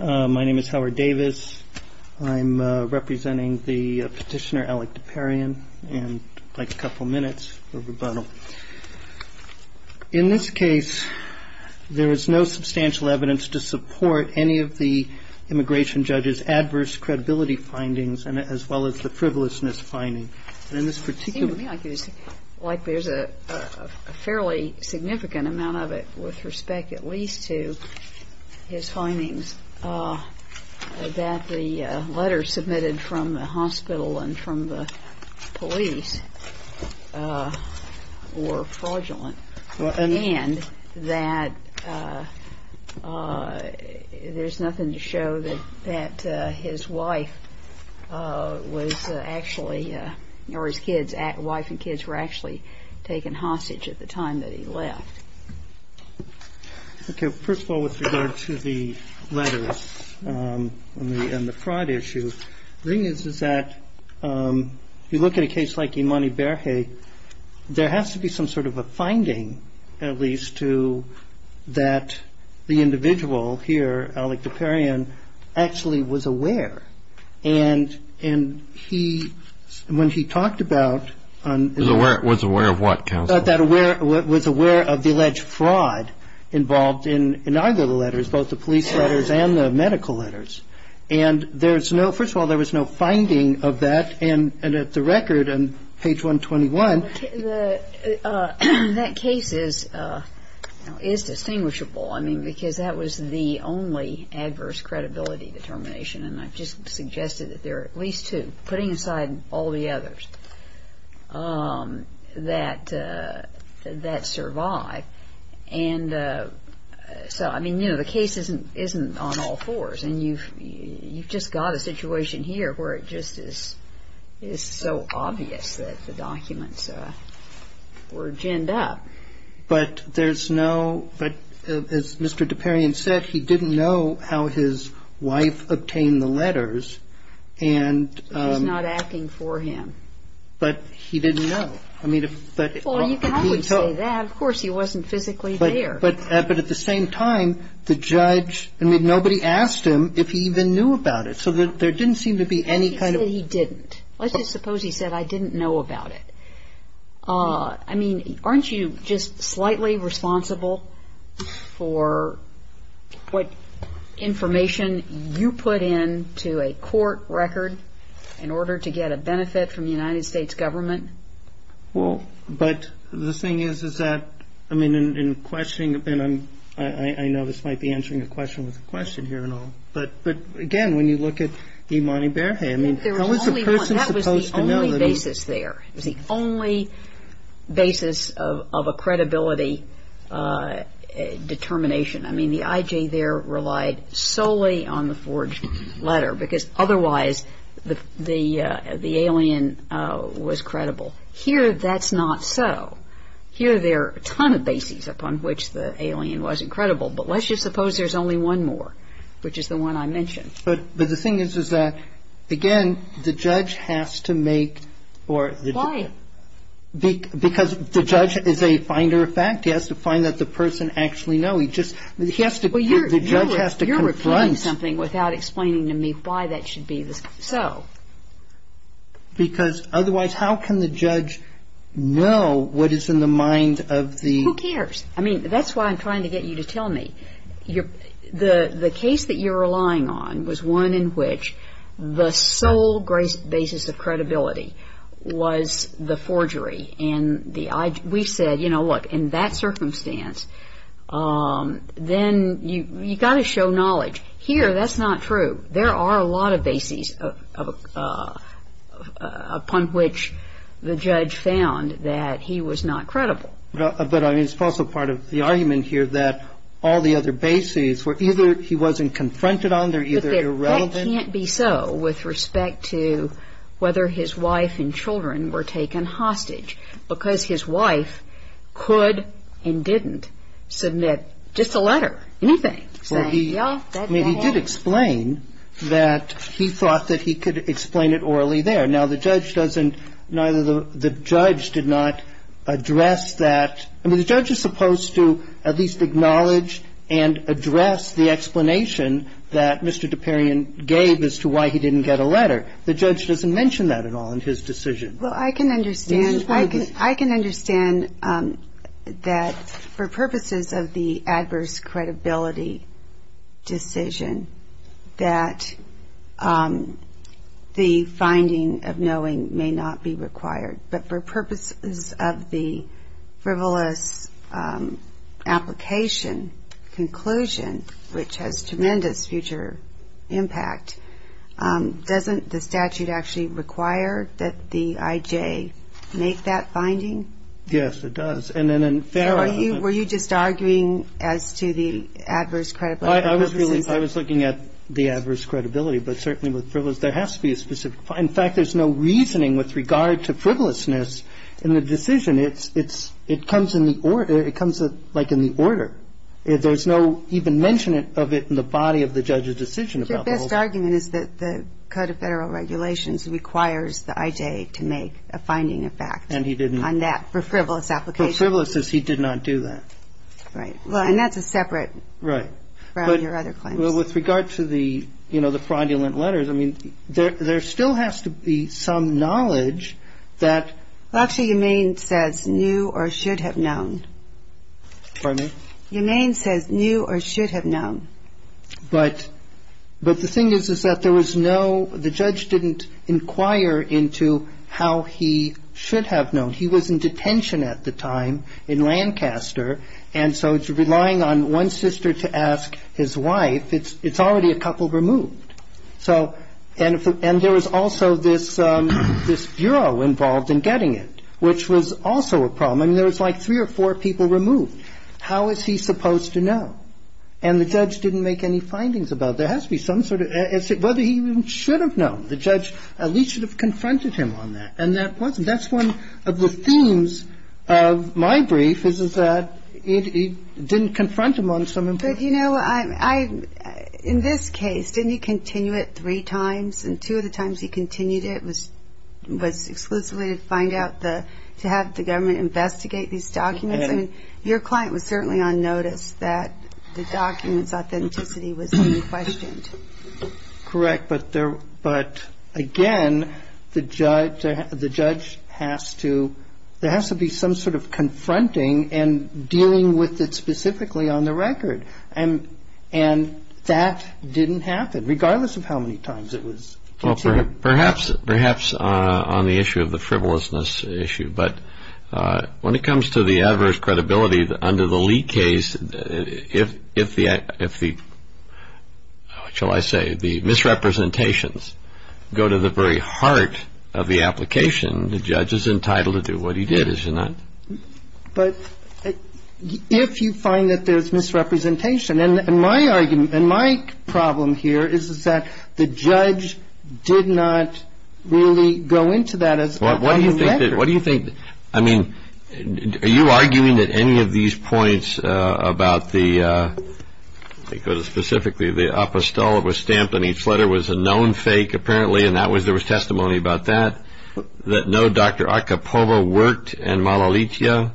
My name is Howard Davis. I'm representing the petitioner Alec DePereyan. In this case, there is no substantial evidence to support any of the immigration judge's adverse credibility findings as well as the frivolousness finding. It seems to me like there's a fairly significant amount of it with respect at least to his findings that the letters submitted from the hospital and from the police were fraudulent and that there's nothing to show that his wife was actually, or his wife and kids were actually taken hostage at the time that he left. Okay. First of all, with regard to the letters and the fraud issue, the thing is that you look at a case like Imani Berhe, there has to be some sort of a finding at least to that the individual here, Alec DePereyan, actually was aware. And he, when he talked about Was aware of what, counsel? Was aware of the alleged fraud involved in either of the letters, both the police letters and the medical letters. And there's no, first of all, there was no finding of that. And at the record on page 121 That case is distinguishable. I mean, because that was the only adverse credibility determination. And I've just suggested that there are at least two, putting aside all the others, that survived. And so, I mean, you know, the case isn't on all fours. And you've just got a situation here where it just is so obvious that the documents were ginned up. And so, I mean, you know, the case is distinguishable. But there's no, but as Mr. DePereyan said, he didn't know how his wife obtained the letters. And So he's not acting for him. But he didn't know. I mean, if Well, you can always say that. Of course, he wasn't physically there. But at the same time, the judge, I mean, nobody asked him if he even knew about it. So there didn't seem to be any kind of Let's say that he didn't. Let's just suppose he said, I didn't know about it. I mean, aren't you just slightly responsible for what information you put into a court record in order to get a benefit from the United States government? Well, but the thing is, is that, I mean, in questioning, and I know this might be answering a question with a question here and all, but again, when you look at Imani Berhe, I mean I think there was only one, that was the only basis there. It was the only basis of a credibility determination. I mean, the I.J. there relied solely on the forged letter, because otherwise the alien was credible. Here, that's not so. Here, there are a ton of bases upon which the alien wasn't credible. But let's just suppose there's only one more, which is the one I mentioned. But the thing is, is that, again, the judge has to make or Why? Because the judge is a finder of fact. He has to find that the person actually know. He just, he has to, the judge has to confront You're repeating something without explaining to me why that should be so. Because otherwise, how can the judge know what is in the mind of the Who cares? I mean, that's why I'm trying to get you to tell me. The case that you're relying on was one in which the sole basis of credibility was the forgery. And we said, you know, look, in that circumstance, then you've got to show knowledge. Here, that's not true. There are a lot of bases upon which the judge found that he was not credible. But I mean, it's also part of the argument here that all the other bases were either he wasn't confronted on, they're either irrelevant But that can't be so with respect to whether his wife and children were taken hostage because his wife could and didn't submit just a letter, anything. Well, he, I mean, he did explain that he thought that he could explain it orally there. Now, the judge doesn't, neither the judge did not address that. I mean, the judge is I can understand that for purposes of the adverse credibility decision, that the finding of knowing may not be required. But for purposes of the frivolous application, conclusion, which has to do with the fact that the judge has not a tremendous future impact, doesn't the statute actually require that the IJ make that finding? Yes, it does. And then in fairness Were you just arguing as to the adverse credibility? I was looking at the adverse credibility, but certainly with frivolous, there has to be a specific In fact, there's no reasoning with regard to frivolousness in the decision. It comes like in the order. There's no even mention of it in the body of the judge's decision. Your best argument is that the Code of Federal Regulations requires the IJ to make a finding of fact on that for frivolous application. For frivolousness, he did not do that. Right. And that's a separate from your other claims. With regard to the fraudulent letters, I mean, there still has to be some knowledge that Well, actually, Yemane says knew or should have known. Pardon me? Yemane says knew or should have known. But the thing is, is that there was no The judge didn't inquire into how he should have known. He was in detention at the time in Lancaster. And so it's relying on one sister to ask his wife. It's already a couple removed. So and there was also this bureau involved in getting it, which was also a problem. I mean, there was like three or four people removed. How is he supposed to know? And the judge didn't make any findings about it. There has to be some sort of whether he should have known. The judge at least should have confronted him on that. And that's one of the themes of my brief, is that he didn't confront him on some But, you know, in this case, didn't he continue it three times? And two of the times he continued it was exclusively to find out the to have the government investigate these documents. I mean, your client was certainly on notice that the documents authenticity was being questioned. Correct. But there but again, the judge has to There has to be some sort of confronting and dealing with it specifically on the record. And that didn't happen, regardless of how many times it was. Perhaps on the issue of the frivolousness issue. But when it comes to the adverse credibility under the Lee case, if the shall I say the misrepresentations go to the very heart of the application, the judge is entitled to do what he did, isn't it? But if you find that there's misrepresentation, and my argument and my problem here is that the judge did not really go into that as What do you think? I mean, are you arguing that any of these points about the because specifically the apostolate was stamped and each letter was a known fake apparently and that was there was testimony about that. That no, Dr. Arkhipova worked in Malalitia.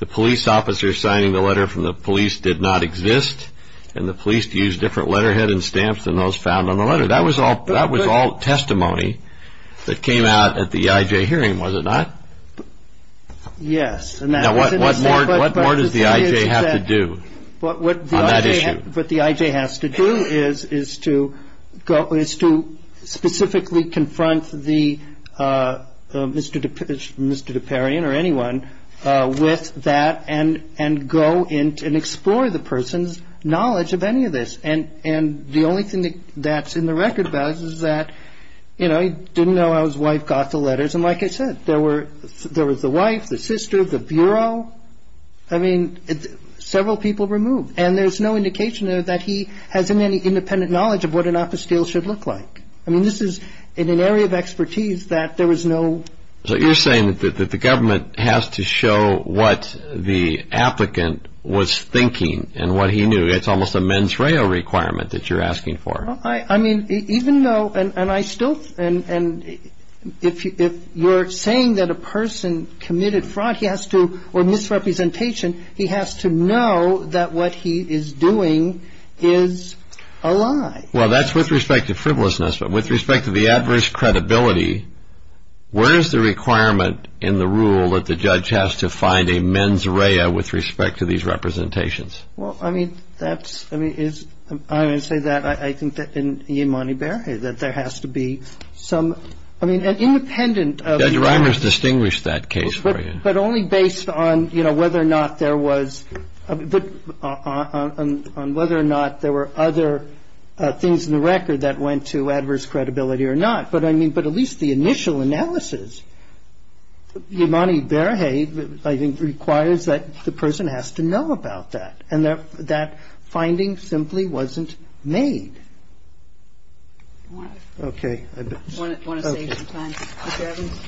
The police officer signing the letter from the police did not exist. And the police used different letterhead and stamps than those found on the letter. That was all that was all testimony that came out at the IJ hearing, was it not? Yes. And what more does the IJ have to do on that issue? What the IJ has to do is is to go is to specifically confront the Mr. Deparian or anyone with that and and go in and explore the person's knowledge of any of this. And the only thing that's in the record about it is that, you know, he didn't know how his wife got the letters. And like I said, there were there was the wife, the sister, the bureau. I mean, several people removed. And there's no indication that he has any independent knowledge of what an apostille should look like. I mean, this is in an area of expertise that there was no. So you're saying that the government has to show what the applicant was thinking and what he knew. It's almost a mens reo requirement that you're asking for. I mean, even though and I still and if you're saying that a person committed fraud, he has to or misrepresentation. He has to know that what he is doing is a lie. Well, that's with respect to frivolousness. But with respect to the adverse credibility, where is the requirement in the rule that the judge has to find a mens reo with respect to these representations? Well, I mean, that's I mean, it's I would say that I think that in the money bear that there has to be some. I mean, an independent driver's distinguished that case. But only based on, you know, whether or not there was a bit on whether or not there were other things in the record that went to adverse credibility or not. But I mean, but at least the initial analysis, the money there. Hey, I think requires that the person has to know about that and that finding simply wasn't made. OK. I want to save some time. Mr. Evans.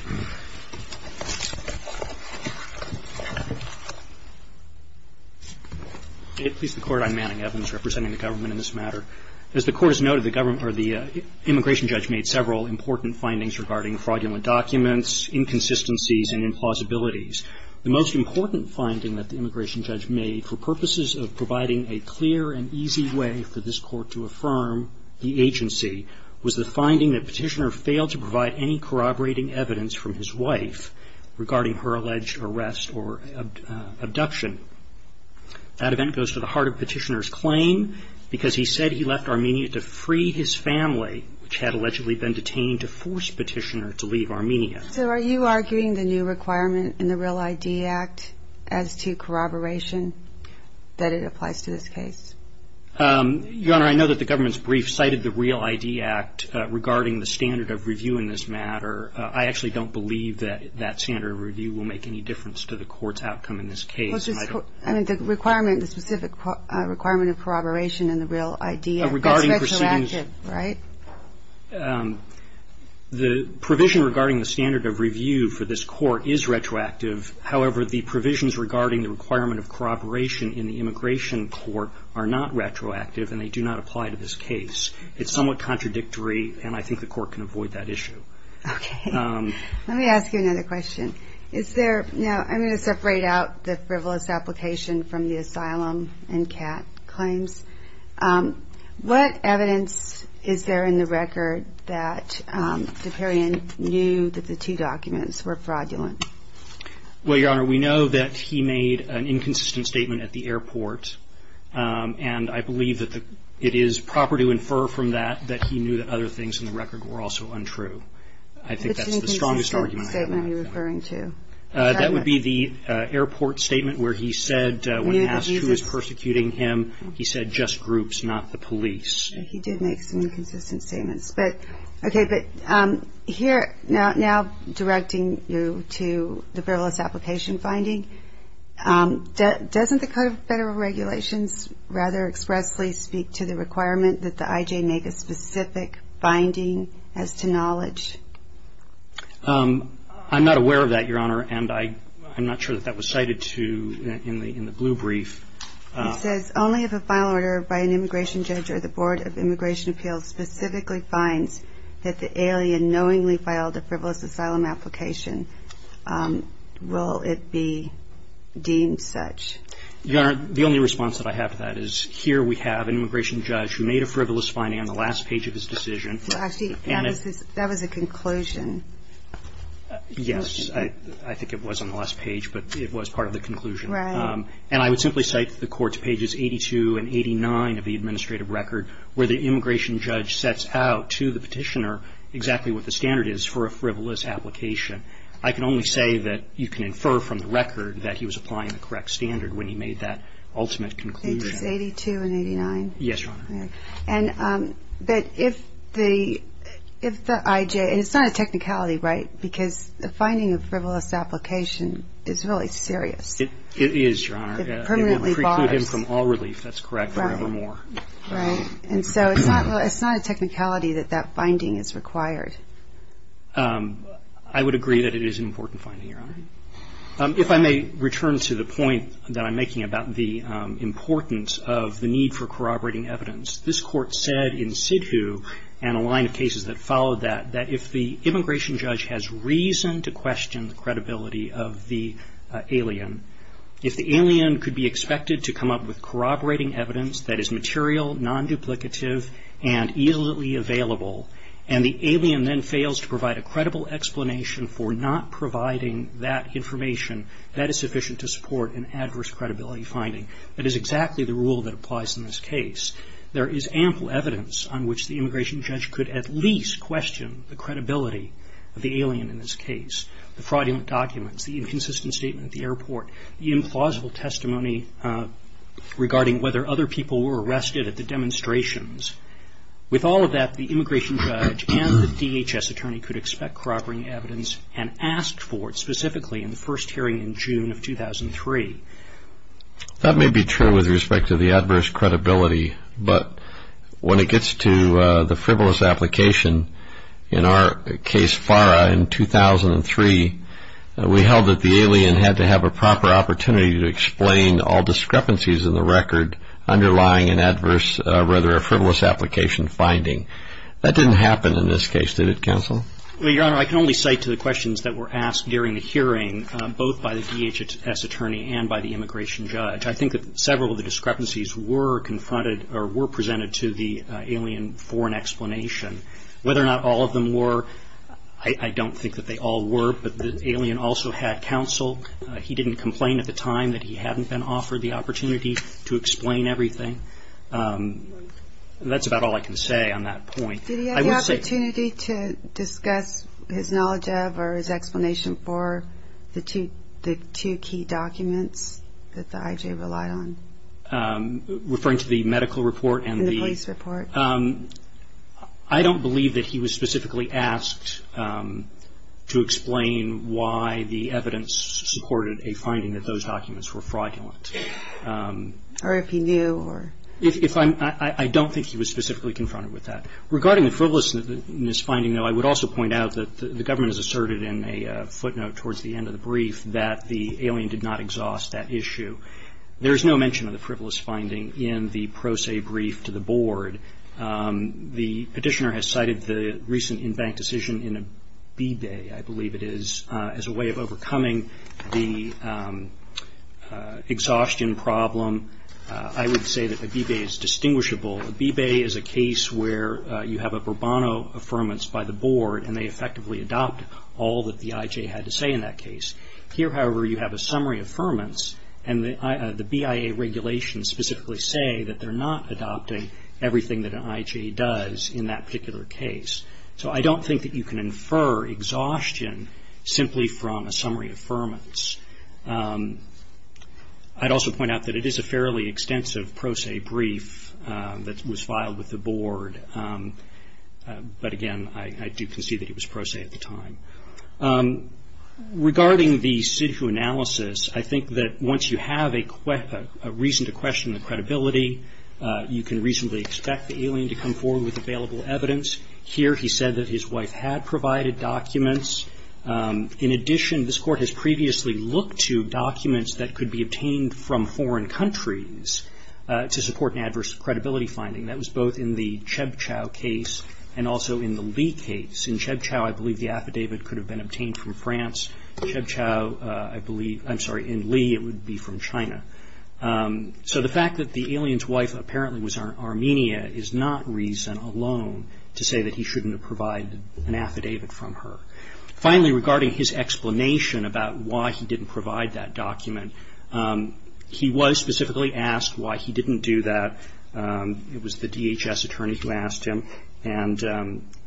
Please, the court. I'm Manning Evans representing the government in this matter. As the court has noted, the government or the immigration judge made several important findings regarding fraudulent documents, inconsistencies and implausibilities. The most important finding that the immigration judge made for purposes of providing a clear and easy way for this court to affirm the agency was the finding that Petitioner failed to provide any corroborating evidence from his wife regarding her alleged arrest or abduction. That event goes to the heart of Petitioner's claim because he said he left Armenia to free his family, which had allegedly been detained to force Petitioner to leave Armenia. So are you arguing the new requirement in the Real ID Act as to corroboration that it applies to this case? Your Honor, I know that the government's brief cited the Real ID Act regarding the standard of review in this matter. I actually don't believe that that standard of review will make any difference to the court's outcome in this case. I mean, the requirement, the specific requirement of corroboration in the Real ID Act. That's retroactive, right? Your Honor, the provision regarding the standard of review for this court is retroactive. However, the provisions regarding the requirement of corroboration in the immigration court are not retroactive and they do not apply to this case. It's somewhat contradictory and I think the court can avoid that issue. Okay. Let me ask you another question. Is there, now I'm going to separate out the frivolous application from the asylum and CAT claims. What evidence is there in the record that Diperian knew that the two documents were fraudulent? Well, Your Honor, we know that he made an inconsistent statement at the airport and I believe that it is proper to infer from that that he knew that other things in the record were also untrue. I think that's the strongest argument I have. Which inconsistent statement are you referring to? That would be the airport statement where he said when asked who was persecuting him, he said just groups, not the police. He did make some inconsistent statements. Okay, but here, now directing you to the frivolous application finding, doesn't the Code of Federal Regulations rather expressly speak to the requirement that the IJ make a specific finding as to knowledge? I'm not aware of that, Your Honor, and I'm not sure that that was cited in the blue brief. It says only if a final order by an immigration judge or the Board of Immigration Appeals specifically finds that the alien knowingly filed a frivolous asylum application will it be deemed such. Your Honor, the only response that I have to that is here we have an immigration judge who made a frivolous finding on the last page of his decision. Actually, that was a conclusion. Yes, I think it was on the last page, but it was part of the conclusion. Right. And I would simply cite the Court's pages 82 and 89 of the administrative record where the immigration judge sets out to the petitioner exactly what the standard is for a frivolous application. I can only say that you can infer from the record that he was applying the correct standard when he made that ultimate conclusion. Pages 82 and 89? Yes, Your Honor. Okay. And that if the IJ, and it's not a technicality, right, because the finding of frivolous application is really serious. It is, Your Honor. It will preclude him from all relief, that's correct, forevermore. Right. And so it's not a technicality that that finding is required. I would agree that it is an important finding, Your Honor. If I may return to the point that I'm making about the importance of the need for corroborating evidence, this Court said in Sidhu and a line of cases that followed that, that if the immigration judge has reason to question the credibility of the alien, if the alien could be expected to come up with corroborating evidence that is material, non-duplicative, and easily available, and the alien then fails to provide a credible explanation for not providing that information, that is sufficient to support an adverse credibility finding. That is exactly the rule that applies in this case. There is ample evidence on which the immigration judge could at least question the credibility of the alien in this case. The fraudulent documents, the inconsistent statement at the airport, the implausible testimony regarding whether other people were arrested at the demonstrations. With all of that, the immigration judge and the DHS attorney could expect corroborating evidence and ask for it specifically in the first hearing in June of 2003. That may be true with respect to the adverse credibility, but when it gets to the frivolous application, in our case, FARA, in 2003, we held that the alien had to have a proper opportunity to explain all discrepancies in the record underlying an adverse, rather a frivolous application finding. That didn't happen in this case, did it, Counsel? Well, Your Honor, I can only cite to the questions that were asked during the hearing, both by the DHS attorney and by the immigration judge. I think that several of the discrepancies were confronted or were presented to the alien for an explanation. Whether or not all of them were, I don't think that they all were, but the alien also had counsel. He didn't complain at the time that he hadn't been offered the opportunity to explain everything. That's about all I can say on that point. Did he have the opportunity to discuss his knowledge of or his explanation for the two key documents that the I.J. relied on? Referring to the medical report? And the police report. I don't believe that he was specifically asked to explain why the evidence supported a finding that those documents were fraudulent. Or if he knew? I don't think he was specifically confronted with that. Regarding the frivolousness finding, though, I would also point out that the government has asserted in a footnote towards the end of the brief that the alien did not exhaust that issue. There is no mention of the frivolous finding in the pro se brief to the board. The petitioner has cited the recent in-bank decision in a B-Bay, I believe it is, as a way of overcoming the exhaustion problem. I would say that a B-Bay is distinguishable. A B-Bay is a case where you have a Burbano Affirmance by the board and they effectively adopt all that the I.J. had to say in that case. Here, however, you have a Summary Affirmance and the BIA regulations specifically say that they're not adopting everything that an I.J. does in that particular case. So I don't think that you can infer exhaustion simply from a Summary Affirmance. I'd also point out that it is a fairly extensive pro se brief that was filed with the board. But again, I do concede that it was pro se at the time. Regarding the SIDHU analysis, I think that once you have a reason to question the credibility, you can reasonably expect the alien to come forward with available evidence. Here, he said that his wife had provided documents. In addition, this Court has previously looked to documents that could be obtained from foreign countries to support an adverse credibility finding. That was both in the Chebchow case and also in the Li case. In Chebchow, I believe the affidavit could have been obtained from France. In Li, it would be from China. So the fact that the alien's wife apparently was in Armenia is not reason alone to say that he shouldn't have provided an affidavit from her. Finally, regarding his explanation about why he didn't provide that document, he was specifically asked why he didn't do that. It was the DHS attorney who asked him.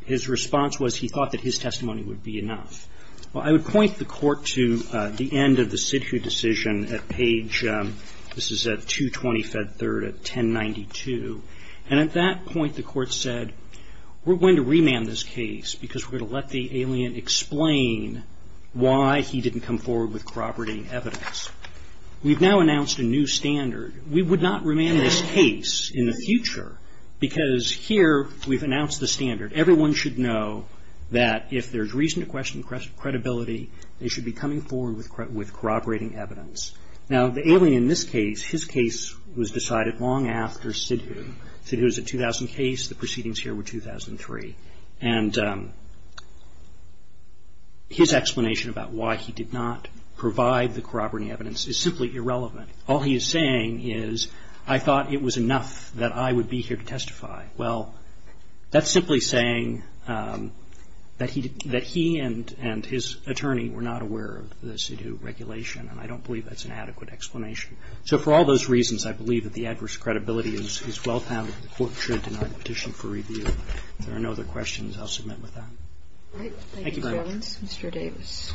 His response was he thought that his testimony would be enough. I would point the Court to the end of the SIDHU decision at page 220, Fed 3rd, 1092. At that point, the Court said, We're going to remand this case because we're going to let the alien explain why he didn't come forward with corroborating evidence. We've now announced a new standard. We would not remand this case in the future because here we've announced the standard. Everyone should know that if there's reason to question credibility, they should be coming forward with corroborating evidence. Now, the alien in this case, his case was decided long after SIDHU. SIDHU is a 2000 case. The proceedings here were 2003. And his explanation about why he did not provide the corroborating evidence is simply irrelevant. All he is saying is, I thought it was enough that I would be here to testify. Well, that's simply saying that he and his attorney were not aware of the SIDHU regulation, and I don't believe that's an adequate explanation. So for all those reasons, I believe that the adverse credibility is well-founded. The Court should deny the petition for review. If there are no other questions, I'll submit with that. Thank you very much.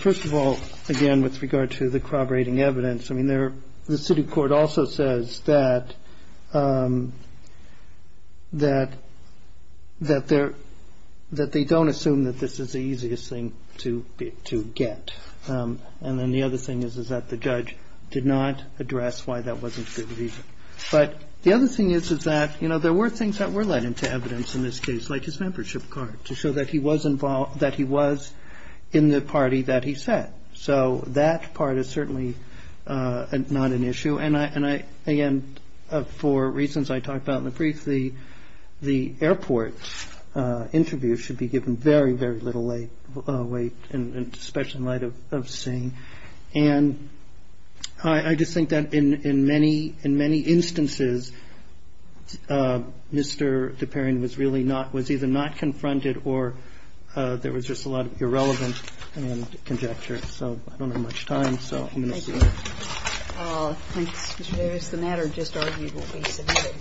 First of all, again, with regard to the corroborating evidence, the SIDHU Court also says that they don't assume that this is the easiest thing to get. And then the other thing is that the judge did not address why that wasn't the reason. But the other thing is that there were things that were led into evidence in this case, like his membership card, to show that he was involved, that he was in the party that he sat. So that part is certainly not an issue. And, again, for reasons I talked about in the brief, the airport interview should be given very, very little weight, especially in light of Singh. And I just think that in many instances, Mr. Duparian was either not confronted or there was just a lot of irrelevant conjecture. So I don't have much time, so I'm going to stop. Thank you. Thanks, Mr. Davis. The matter just argued will be submitted.